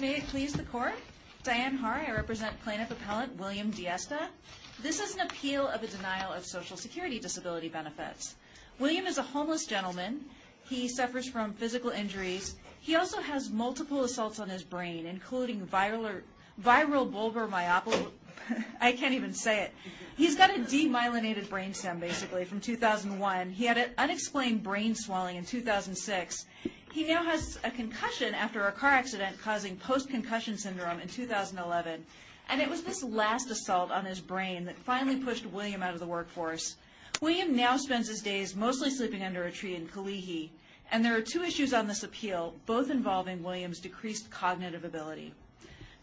May it please the court. Diane Haar, I represent plaintiff appellant William Diesta. This is an appeal of a denial of Social Security disability benefits. William is a homeless gentleman. He suffers from physical injuries. He also has multiple assaults on his brain including viral vulvar myopathy. I can't even say it. He's got a demyelinated brain stem basically from 2001. He had an a concussion after a car accident causing post-concussion syndrome in 2011 and it was this last assault on his brain that finally pushed William out of the workforce. William now spends his days mostly sleeping under a tree in Kalihi and there are two issues on this appeal both involving William's decreased cognitive ability.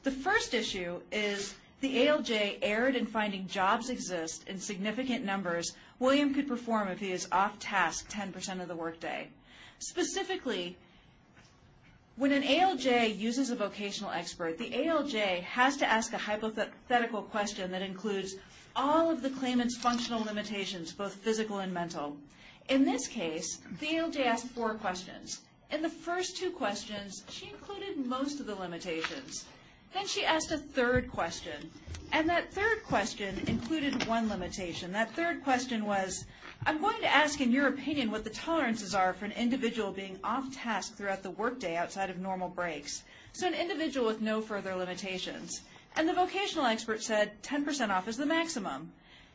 The first issue is the ALJ erred in finding jobs exist in significant numbers William could perform if he is off task 10% of the workday. Specifically when an ALJ uses a vocational expert the ALJ has to ask a hypothetical question that includes all of the claimants functional limitations both physical and mental. In this case the ALJ asked four questions. In the first two questions she included most of the limitations. Then she asked a third question and that third question included one limitation. That third question was I'm going to ask in your opinion what the tolerances are for an individual being off task throughout the workday outside of normal breaks. So an individual with no further limitations. And the vocational expert said 10% off is the maximum.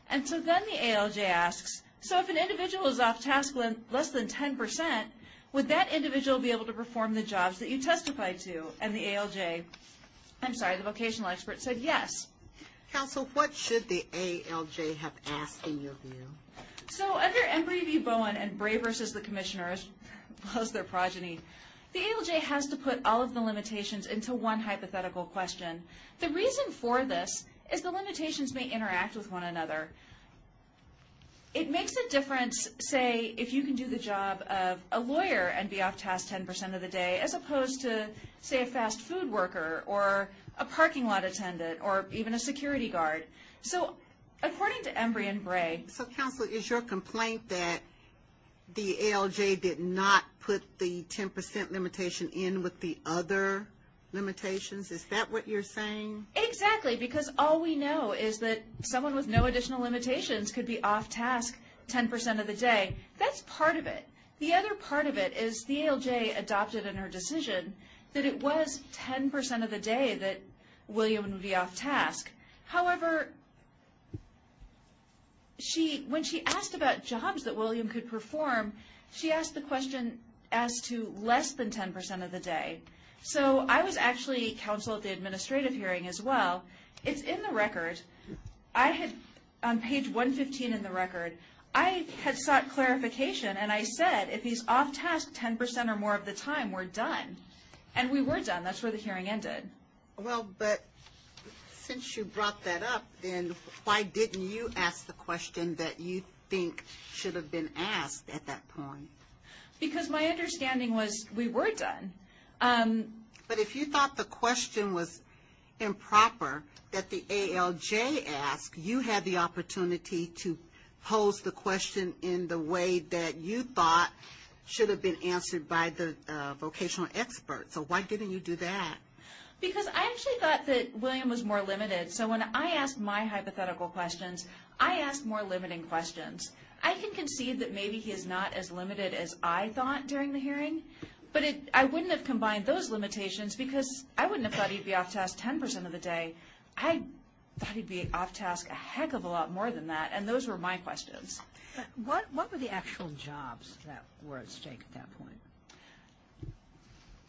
And so then the ALJ asks so if an individual is off task less than 10% would that individual be able to perform the jobs that you testified to? And the ALJ I'm sorry the vocational expert said yes. Counsel what should the ALJ do? So under Embry v. Bowen and Bray versus the Commissioner as well as their progeny the ALJ has to put all of the limitations into one hypothetical question. The reason for this is the limitations may interact with one another. It makes a difference say if you can do the job of a lawyer and be off task 10% of the day as opposed to say a fast-food worker or a parking lot attendant or even a security guard. So according to Embry and Bray. So counsel is your complaint that the ALJ did not put the 10% limitation in with the other limitations? Is that what you're saying? Exactly because all we know is that someone with no additional limitations could be off task 10% of the day. That's part of it. The other part of it is the ALJ adopted in her decision that it was 10% of the day that William would be off task. However she when she asked about jobs that William could perform she asked the question as to less than 10% of the day. So I was actually counsel at the administrative hearing as well. It's in the record. I had on page 115 in the record. I had sought clarification and I said if he's off task 10% or more of the time we're done. And we were done. That's where the hearing ended. Well but since you brought that up then why didn't you ask the question that you think should have been asked at that point? Because my understanding was we were done. But if you thought the question was improper that the ALJ asked you had the opportunity to pose the question in the way that you thought should have been answered by the vocational expert. So why didn't you do that? Because I actually thought that William was more limited. So when I asked my hypothetical questions I asked more limiting questions. I can concede that maybe he is not as limited as I thought during the hearing. But I wouldn't have combined those limitations because I wouldn't have thought he'd be off task 10% of the day. I thought he'd be off task a heck of a lot more than that. And those were my questions. What were the actual jobs that were at stake at that point?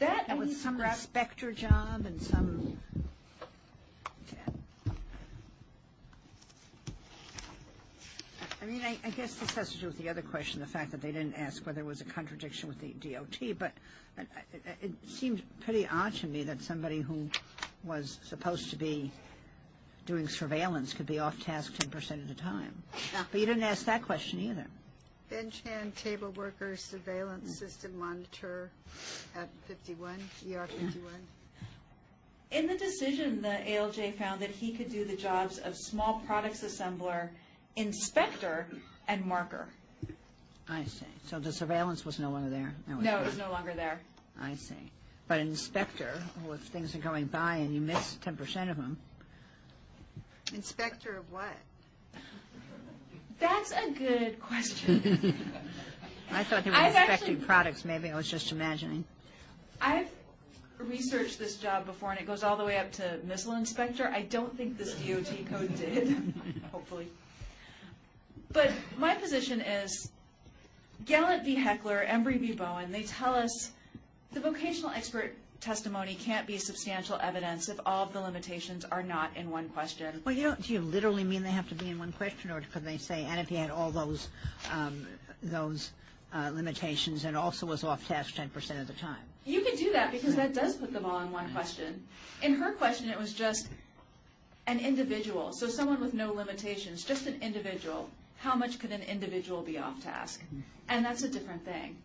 That was some inspector job and some. I mean I guess this has to do with the other question. The fact that they didn't ask whether it was a contradiction with the DOT. But it seems pretty odd to me that somebody who was supposed to be doing surveillance could be off task 10% of the time. But you In the decision the ALJ found that he could do the jobs of small products assembler, inspector, and marker. I see. So the surveillance was no longer there? No, it was no longer there. I see. But an inspector, if things are going by and you maybe I was just imagining. I've researched this job before and it goes all the way up to missile inspector. I don't think this DOT code did. But my position is Gallant v. Heckler, Embry v. Bowen, they tell us the vocational expert testimony can't be substantial evidence if all the limitations are not in one question. Do you literally mean they have to be in one question or could they say and if he had all those those limitations and also was off task 10% of the time? You can do that because that does put them all in one question. In her question it was just an individual. So someone with no limitations. Just an individual. How much could an individual be off task? And that's a different thing.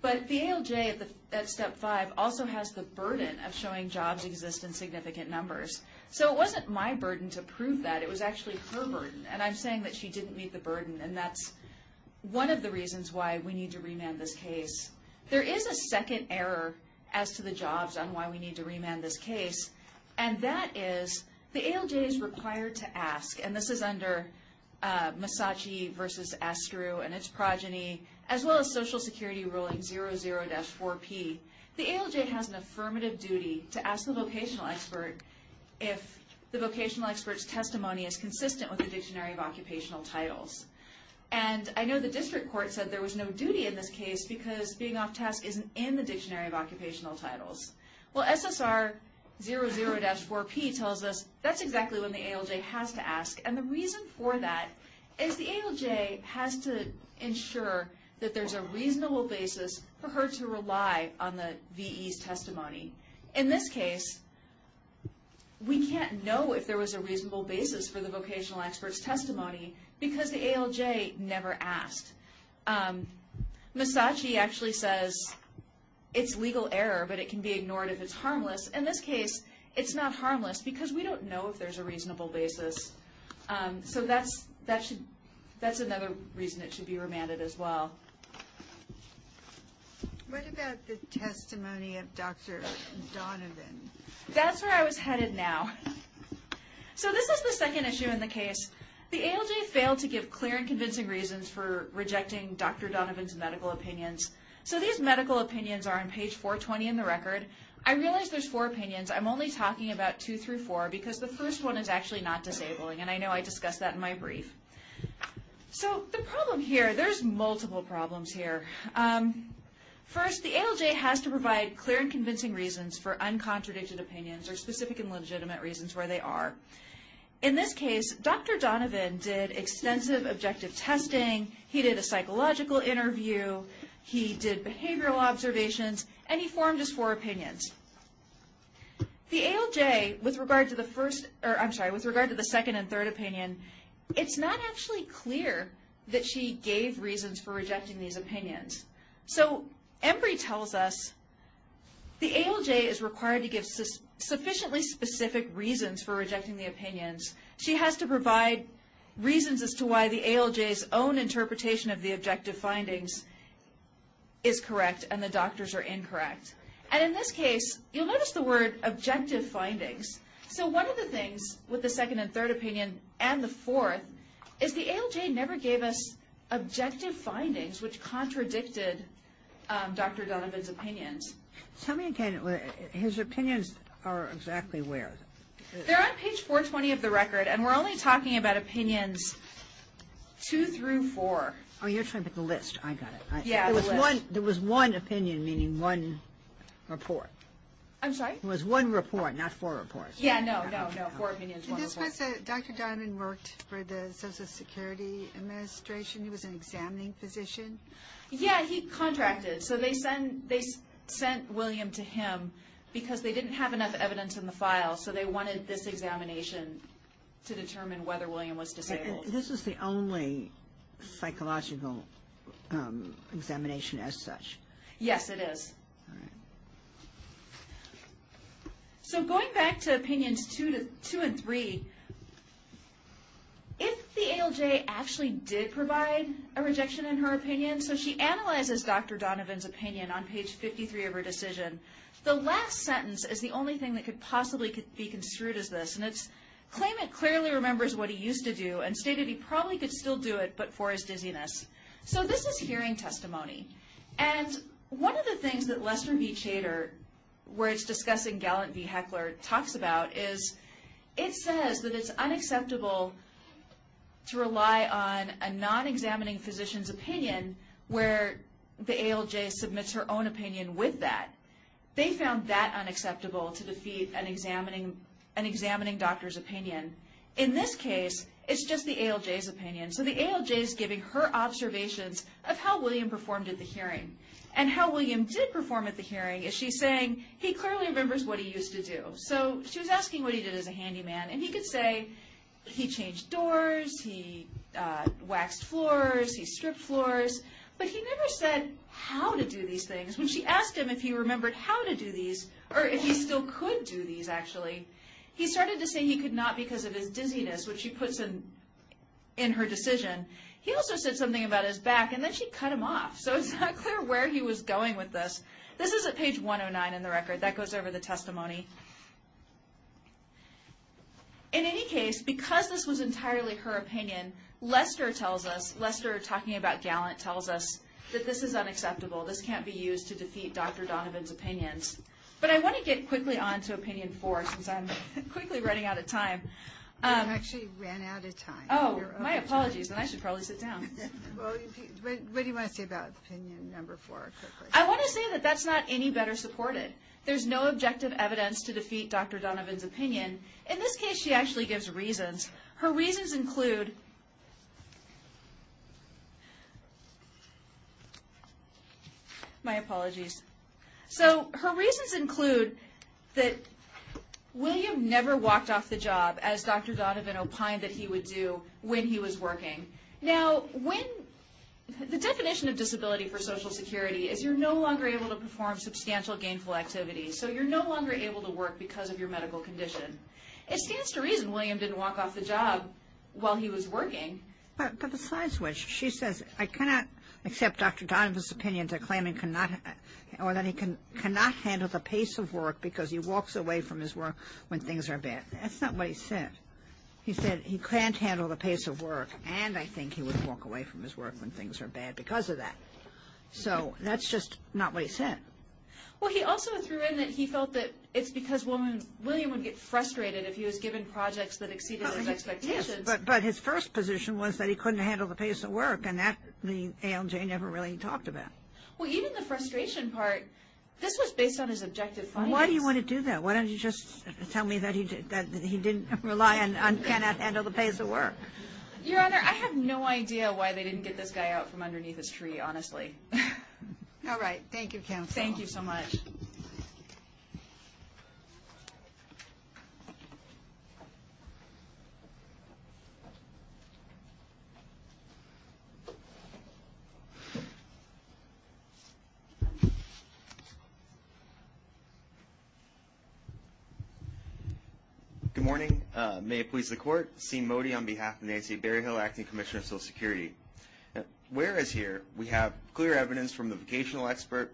But the ALJ at step 5 also has the burden of showing jobs exist in significant numbers. So it wasn't my burden to prove that. It was actually her burden. And I'm saying that she didn't meet the burden. And that's one of the reasons why we need to remand this case. There is a second error as to the jobs on why we need to remand this case. And that is the ALJ is required to ask, and this is under Massachi v. Astru and its progeny, as well as Social Security ruling 00-4P. The ALJ has an affirmative duty to ask the vocational expert if the vocational experts testimony is consistent with the Dictionary of Occupational Titles. And I know the district court said there was no duty in this case because being off task isn't in the Dictionary of Occupational Titles. Well SSR 00-4P tells us that's exactly when the ALJ has to ask. And the reason for that is the ALJ has to ensure that there's a reasonable basis for her to rely on the reasonable basis for the vocational experts testimony, because the ALJ never asked. Massachi actually says it's legal error, but it can be ignored if it's harmless. In this case, it's not harmless because we don't know if there's a reasonable basis. So that's another reason it should be remanded as well. What about the testimony of Dr. Donovan? That's where I was headed now. So this is the second issue in the case. The ALJ failed to give clear and convincing reasons for rejecting Dr. Donovan's medical opinions. So these medical opinions are on page 420 in the record. I realize there's four opinions. I'm only talking about two through four because the first one is actually not disabling, and I know I discussed that in my brief. So the problem here, there's multiple problems here. First, the ALJ has to provide clear and convincing reasons for uncontradicted opinions or specific and legitimate reasons where they are. In this case, Dr. Donovan did extensive objective testing, he did a psychological interview, he did behavioral observations, and he formed his four opinions. The ALJ, with regard to the second and third opinion, it's not actually clear that she gave reasons for rejecting these opinions. So Embry tells us the ALJ is required to give sufficiently specific reasons for rejecting the opinions. She has to provide reasons as to why the ALJ's own interpretation of the objective findings is correct and the doctors are incorrect. And in this case, you'll notice the word objective findings. So one of the things with the second and third opinion and the fourth is the ALJ never gave us objective findings which contradicted Dr. Donovan's opinions. Tell me again, his opinions are exactly where? They're on page 420 of the record and we're only talking about opinions two through four. Oh, you're trying to pick a list. I got it. Yeah, a list. There was one opinion, meaning one report. I'm sorry? It was one report, not four reports. Yeah, no, no, no. Four opinions, one report. Did this person, Dr. Donovan, worked for the Social Security Administration? He was an examining physician? Yeah, he contracted. So they sent William to him because they didn't have enough evidence in the file. So they wanted this examination to determine whether William was disabled. This is the only psychological examination as such? Yes, it is. All right. So going back to opinions two and three, if the ALJ actually did provide a rejection in her opinion, so she analyzes Dr. Donovan's opinion on page 53 of her decision, the last sentence is the only thing that could possibly be construed as this, and it's, claim it clearly remembers what he used to do and stated he probably could still do it but for his dizziness. So this is hearing testimony, and one of the things that Lester V. Chater, where it's discussing Gallant V. Heckler, talks about is it says that it's unacceptable to rely on a non-examining physician's opinion where the ALJ submits her own opinion with that. They found that unacceptable to defeat an examining doctor's opinion. In this case, it's just the ALJ's opinion. So the ALJ is giving her observations of how William performed at the hearing. And how William did perform at the hearing is she's saying he clearly remembers what he used to do. So she was asking what he did as a handyman, and he could say he changed doors, he waxed floors, he stripped floors, but he never said how to do these things. When she asked him if he remembered how to do these, or if he still could do these actually, he started to say he could not because of his dizziness, which she puts in her decision. He also said something about his back, and then she cut him off. So it's not clear where he was going with this. This is at page 109 in the record. That goes over the testimony. In any case, because this was entirely her opinion, Lester tells us, Lester talking about Gallant tells us that this is unacceptable. This can't be used to defeat Dr. Donovan's opinions. But I want to get quickly on to Opinion 4, since I'm quickly running out of time. You actually ran out of time. Oh, my apologies. And I should probably sit down. What do you want to say about Opinion 4? I want to say that that's not any better supported. There's no objective evidence to defeat Dr. Donovan's opinion. In this case, she actually gives reasons. Her reasons include... My apologies. So her reasons include that William never walked off the job as Dr. Donovan opined that he would do when he was working. Now, when... The definition of disability for Social Security is you're no longer able to perform substantial gainful activities. So you're no longer able to work because of your medical condition. It stands to reason William didn't walk off the job while he was working. But besides which, she says, I cannot accept Dr. Donovan's opinion to claim he cannot handle the pace of work because he walks away from his work when things are bad. That's not what he said. He said he can't handle the pace of work and I think he would walk away from his work when things are bad because of that. So that's just not what he said. Well, he also threw in that he felt that it's because William would get frustrated if he was given projects that exceeded his expectations. Yes, but his first position was that he couldn't handle the pace of work and that the ALJ never really talked about. Well, even the frustration part, this was based on his objective findings. Why do you want to do that? Why don't you just tell me that he didn't rely on cannot handle the pace of work? Your Honor, I have no idea why they didn't get this guy out from underneath his tree, honestly. All right. Thank you, counsel. Thank you so much. Thank you. Good morning. May it please the Court. Sean Mody on behalf of Nancy Berryhill, Acting Commissioner of Social Security. Whereas here we have clear evidence from the vocational expert,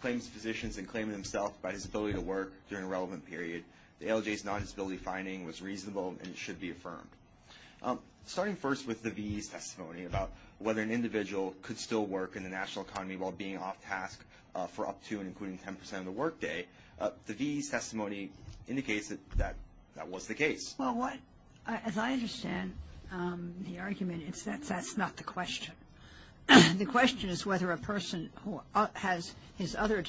claims physicians and claiming himself by his ability to work during a relevant period, the ALJ's non-disability finding was already affirmed. Starting first with the VE's testimony about whether an individual could still work in the national economy while being off-task for up to and including 10% of the work day, the VE's testimony indicates that that was the case. Well, as I understand the argument, that's not the question. The question is whether a person who has his other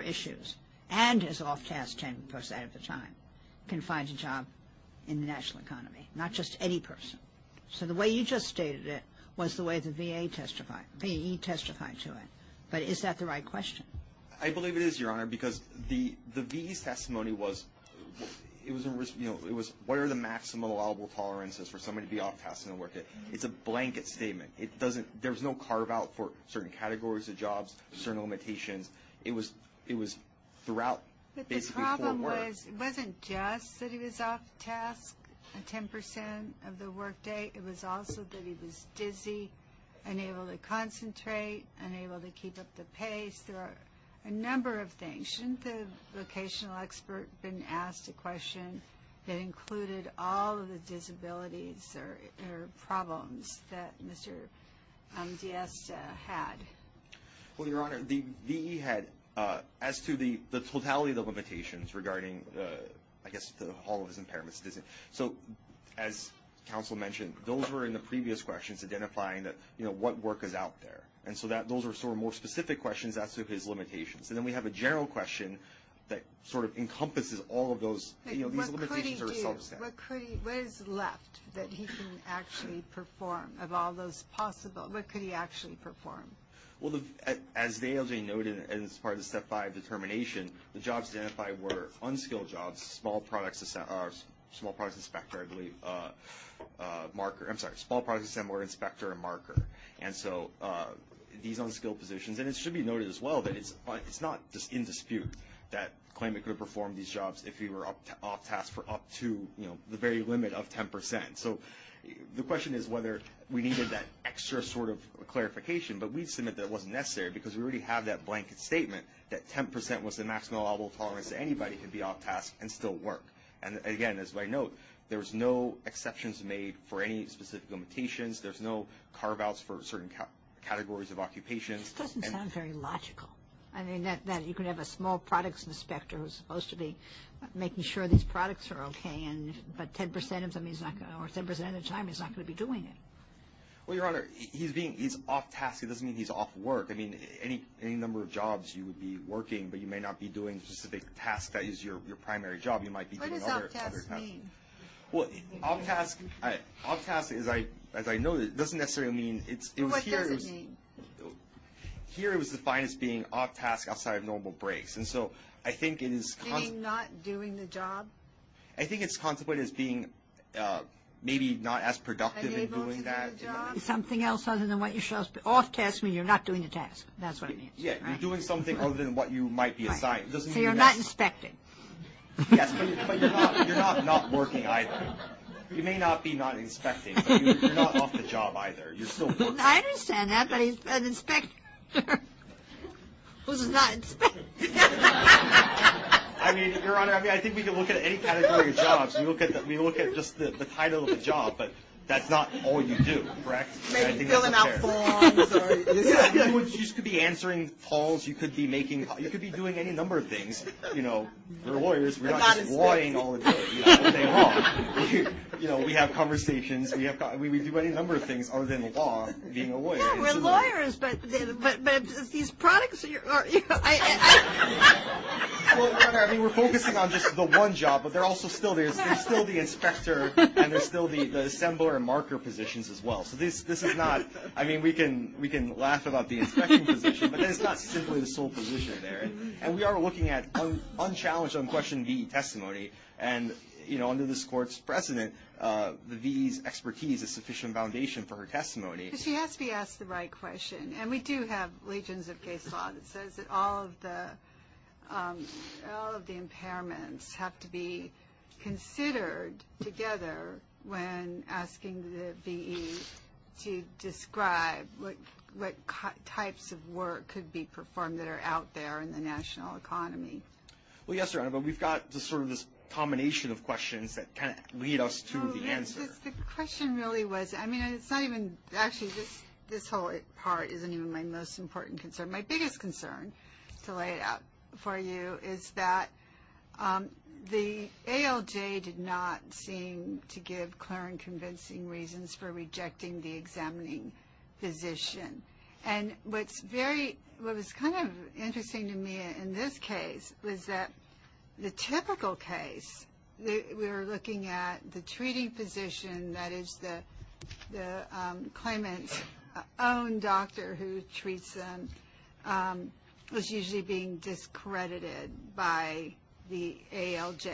issues and is off-task 10% of the time can find a job in the national economy, not just any person. So the way you just stated it was the way the VE testified to it. But is that the right question? I believe it is, Your Honor, because the VE's testimony was, you know, it was, what are the maximum allowable tolerances for somebody to be off-task in the work day? It's a blanket statement. There's no carve-out for certain categories of jobs, certain limitations. It was throughout basically for work. The problem was it wasn't just that he was off-task 10% of the work day. It was also that he was dizzy, unable to concentrate, unable to keep up the pace. There are a number of things. Shouldn't the vocational expert have been asked a question that included all of the disabilities or problems that Mr. Diaz had? Well, Your Honor, the VE had, as to the totality of the limitations regarding, I guess, all of his impairments. So as counsel mentioned, those were in the previous questions, identifying what work is out there. And so those were sort of more specific questions as to his limitations. And then we have a general question that sort of encompasses all of those. What could he do? What is left that he can actually perform of all those possible? What could he actually perform? Well, as they noted as part of the Step 5 determination, the jobs identified were unskilled jobs, small products inspector, I believe, marker. I'm sorry, small products inspector and marker. And so these unskilled positions. And it should be noted as well that it's not in dispute that claimant could have performed these jobs if he were off-task for up to the very limit of 10%. So the question is whether we needed that extra sort of clarification. But we submit that it wasn't necessary because we already have that blanket statement that 10% was the maximum allowable tolerance that anybody could be off-task and still work. And, again, as I note, there's no exceptions made for any specific limitations. There's no carve-outs for certain categories of occupations. It doesn't sound very logical. I mean, you could have a small products inspector who's supposed to be making sure these products are okay, but 10% of the time he's not going to be doing it. Well, Your Honor, he's off-task. It doesn't mean he's off work. I mean, any number of jobs you would be working, but you may not be doing a specific task that is your primary job. You might be doing other tasks. What does off-task mean? Well, off-task, as I noted, doesn't necessarily mean it's here. What does it mean? Here it was defined as being off-task outside of normal breaks. And so I think it is constant. Meaning not doing the job? I think it's contemplated as being maybe not as productive in doing that. Unable to do the job? Something else other than what you're supposed to be. Off-task means you're not doing the task. That's what it means. Yeah, you're doing something other than what you might be assigned. So you're not inspecting. Yes, but you're not not working either. You may not be not inspecting, but you're not off the job either. You're still working. I understand that, but an inspector who's not inspecting. I mean, Your Honor, I think we can look at any category of jobs. We look at just the title of the job, but that's not all you do, correct? Maybe filling out forms. Yeah, you could be answering calls. You could be making calls. You could be doing any number of things. You know, we're lawyers. We're not just lawying all day long. You know, we have conversations. Yeah, we're lawyers. But it's these products. I mean, we're focusing on just the one job, but there's still the inspector and there's still the assembler and marker positions as well. So this is not – I mean, we can laugh about the inspection position, but it's not simply the sole position there. And we are looking at unchallenged unquestioned V.E. testimony. And, you know, under this Court's precedent, the V.E.'s expertise is sufficient foundation for her testimony. But she has to be asked the right question. And we do have legions of case law that says that all of the impairments have to be considered together when asking the V.E. to describe what types of work could be performed that are out there in the national economy. Well, yes, Your Honor, but we've got sort of this combination of questions that kind of lead us to the answer. The question really was – I mean, it's not even – actually, this whole part isn't even my most important concern. My biggest concern, to lay it out for you, is that the ALJ did not seem to give clear and convincing reasons for rejecting the examining physician. And what's very – what was kind of interesting to me in this case was that the typical case, we were looking at the treating physician, that is the claimant's own doctor who treats them, was usually being discredited by the ALJ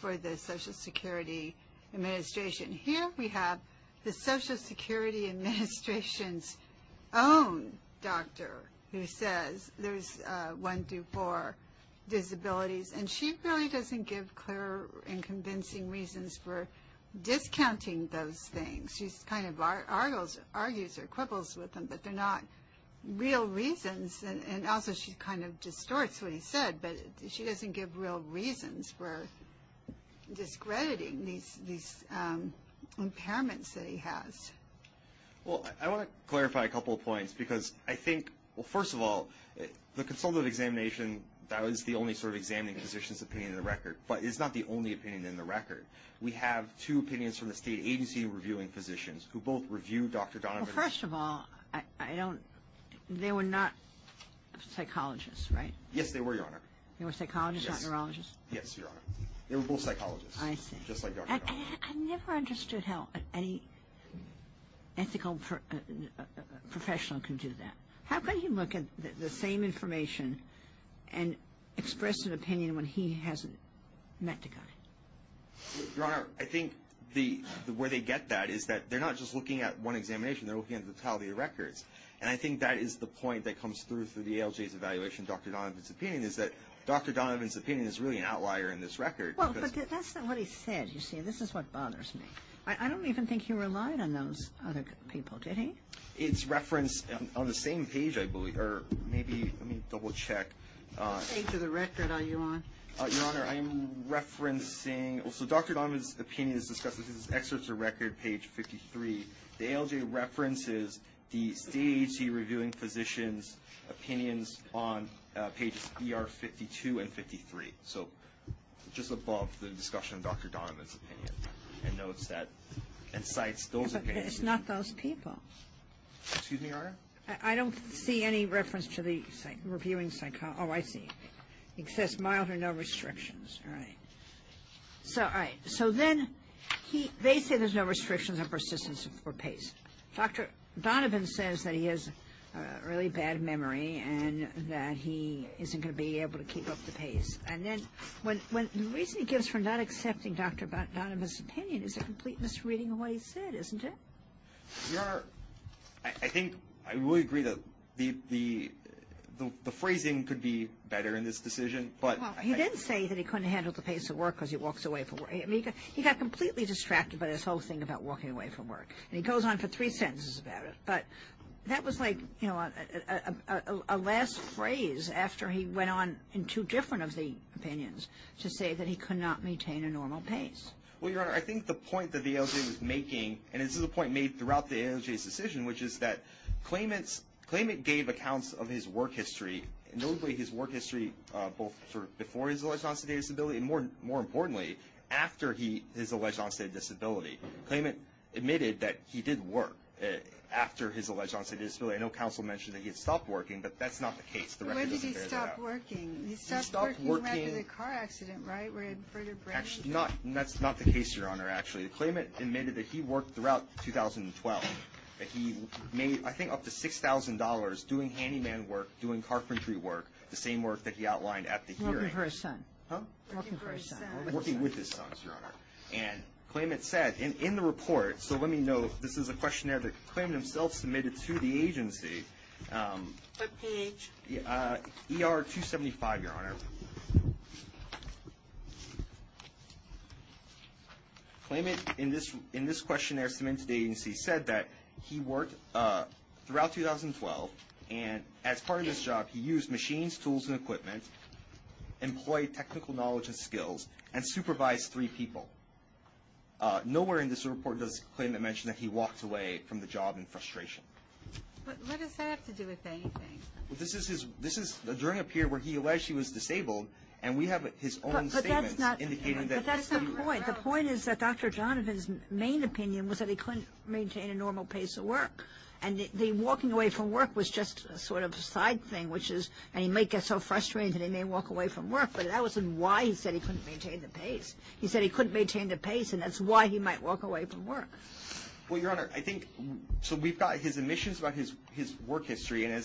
for the Social Security Administration. Here we have the Social Security Administration's own doctor who says there's one to four disabilities, and she really doesn't give clear and convincing reasons for discounting those things. She kind of argues or quibbles with them, but they're not real reasons. And also, she kind of distorts what he said, but she doesn't give real reasons for discrediting these impairments that he has. Well, I want to clarify a couple of points because I think – well, first of all, the consultative examination, that is the only sort of examining physician's opinion in the record, but it's not the only opinion in the record. We have two opinions from the state agency reviewing physicians who both review Dr. Donovan – Well, first of all, I don't – they were not psychologists, right? Yes, they were, Your Honor. They were psychologists, not neurologists? Yes, Your Honor. They were both psychologists, just like Dr. Donovan. I never understood how any ethical professional can do that. How can he look at the same information and express an opinion when he hasn't met the guy? Your Honor, I think where they get that is that they're not just looking at one examination. They're looking at the totality of records, and I think that is the point that comes through through the ALJ's evaluation of Dr. Donovan's opinion, is that Dr. Donovan's opinion is really an outlier in this record. Well, but that's not what he said, you see. This is what bothers me. I don't even think he relied on those other people, did he? It's referenced on the same page, I believe, or maybe – let me double-check. What page of the record are you on? Your Honor, I am referencing – so Dr. Donovan's opinion is discussed in his excerpts of record, page 53. The ALJ references the state agency reviewing physicians' opinions on pages ER 52 and 53. So just above the discussion of Dr. Donovan's opinion, and notes that – and cites those opinions. But it's not those people. Excuse me, Your Honor? I don't see any reference to the reviewing – oh, I see. Excess mild or no restrictions. All right. So then they say there's no restrictions on persistence or pace. Dr. Donovan says that he has a really bad memory and that he isn't going to be able to keep up the pace. And then the reason he gives for not accepting Dr. Donovan's opinion is a complete misreading of what he said, isn't it? Your Honor, I think I would agree that the phrasing could be better in this decision. Well, he didn't say that he couldn't handle the pace of work because he walks away from work. He got completely distracted by this whole thing about walking away from work. And he goes on for three sentences about it. But that was like, you know, a last phrase after he went on in two different of the opinions to say that he could not maintain a normal pace. Well, Your Honor, I think the point that the ALJ was making, and this is a point made throughout the ALJ's decision, which is that claimant gave accounts of his work history, notably his work history both before he was alleged non-state disability and, more importantly, after he is alleged non-state disability. Claimant admitted that he did work after his alleged non-state disability. I know counsel mentioned that he had stopped working, but that's not the case. Where did he stop working? He stopped working right after the car accident, right, where he had vertebrae? That's not the case, Your Honor, actually. The claimant admitted that he worked throughout 2012. He made, I think, up to $6,000 doing handyman work, doing carpentry work, the same work that he outlined at the hearing. Working for his son. Working with his son, Your Honor. And claimant said in the report, so let me note, this is a questionnaire that the claimant himself submitted to the agency. What page? ER 275, Your Honor. Claimant in this questionnaire submitted to the agency said that he worked throughout 2012, and as part of his job he used machines, tools, and equipment, employed technical knowledge and skills, and supervised three people. Nowhere in this report does the claimant mention that he walked away from the job in frustration. What does that have to do with anything? This is during a period where he alleged he was disabled, and we have his own statements indicating that. But that's not the point. The point is that Dr. Jonathan's main opinion was that he couldn't maintain a normal pace of work, and the walking away from work was just sort of a side thing, which is, and he might get so frustrated that he may walk away from work, but that wasn't why he said he couldn't maintain the pace. He said he couldn't maintain the pace, and that's why he might walk away from work. Well, Your Honor, I think, so we've got his admissions about his work history, and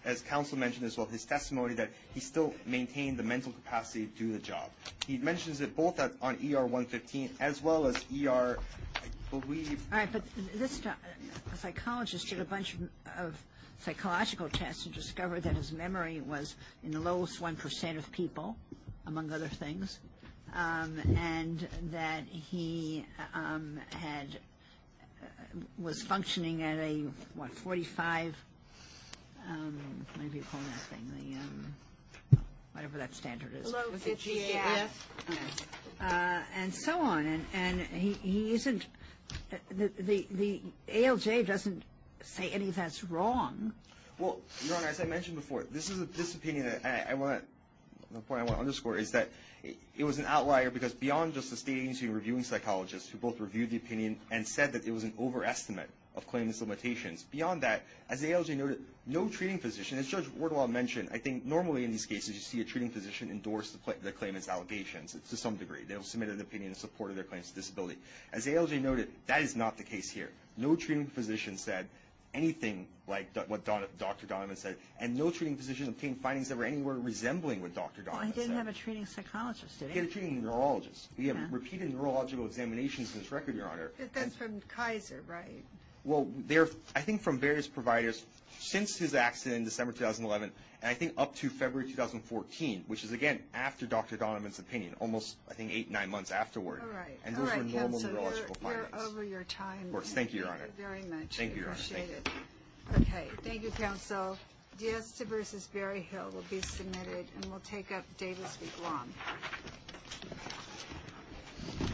as counsel mentioned as well, his testimony that he still maintained the mental capacity to do the job. He mentions it both on ER 115 as well as ER, I believe. All right, but this psychologist did a bunch of psychological tests and discovered that his memory was in the lowest 1% of people, among other things, and that he was functioning at a, what, 45, whatever you call that thing, whatever that standard is. A low 50. And so on, and he isn't, the ALJ doesn't say any of that's wrong. Well, Your Honor, as I mentioned before, this opinion that I want, the point I want to underscore is that it was an outlier because beyond just the state agency reviewing psychologists who both reviewed the opinion and said that it was an overestimate of claimant's limitations, beyond that, as the ALJ noted, no treating physician, as Judge Wardwell mentioned, I think normally in these cases you see a treating physician endorse the claimant's allegations to some degree. They'll submit an opinion in support of their claimant's disability. As ALJ noted, that is not the case here. No treating physician said anything like what Dr. Donovan said, and no treating physician obtained findings that were anywhere resembling what Dr. Donovan said. Well, he didn't have a treating psychologist, did he? He had a treating neurologist. He had repeated neurological examinations on his record, Your Honor. But that's from Kaiser, right? Well, they're, I think, from various providers since his accident in December 2011, and I think up to February 2014, which is, again, after Dr. Donovan's opinion, almost, I think, eight, nine months afterward. All right. And those were normal neurological findings. All right, counsel. You're over your time. Of course. Thank you, Your Honor. Thank you very much. Thank you, Your Honor. I appreciate it. Okay. Thank you, counsel. Diesta v. Berryhill will be submitted, and we'll take up Davis v. Guam.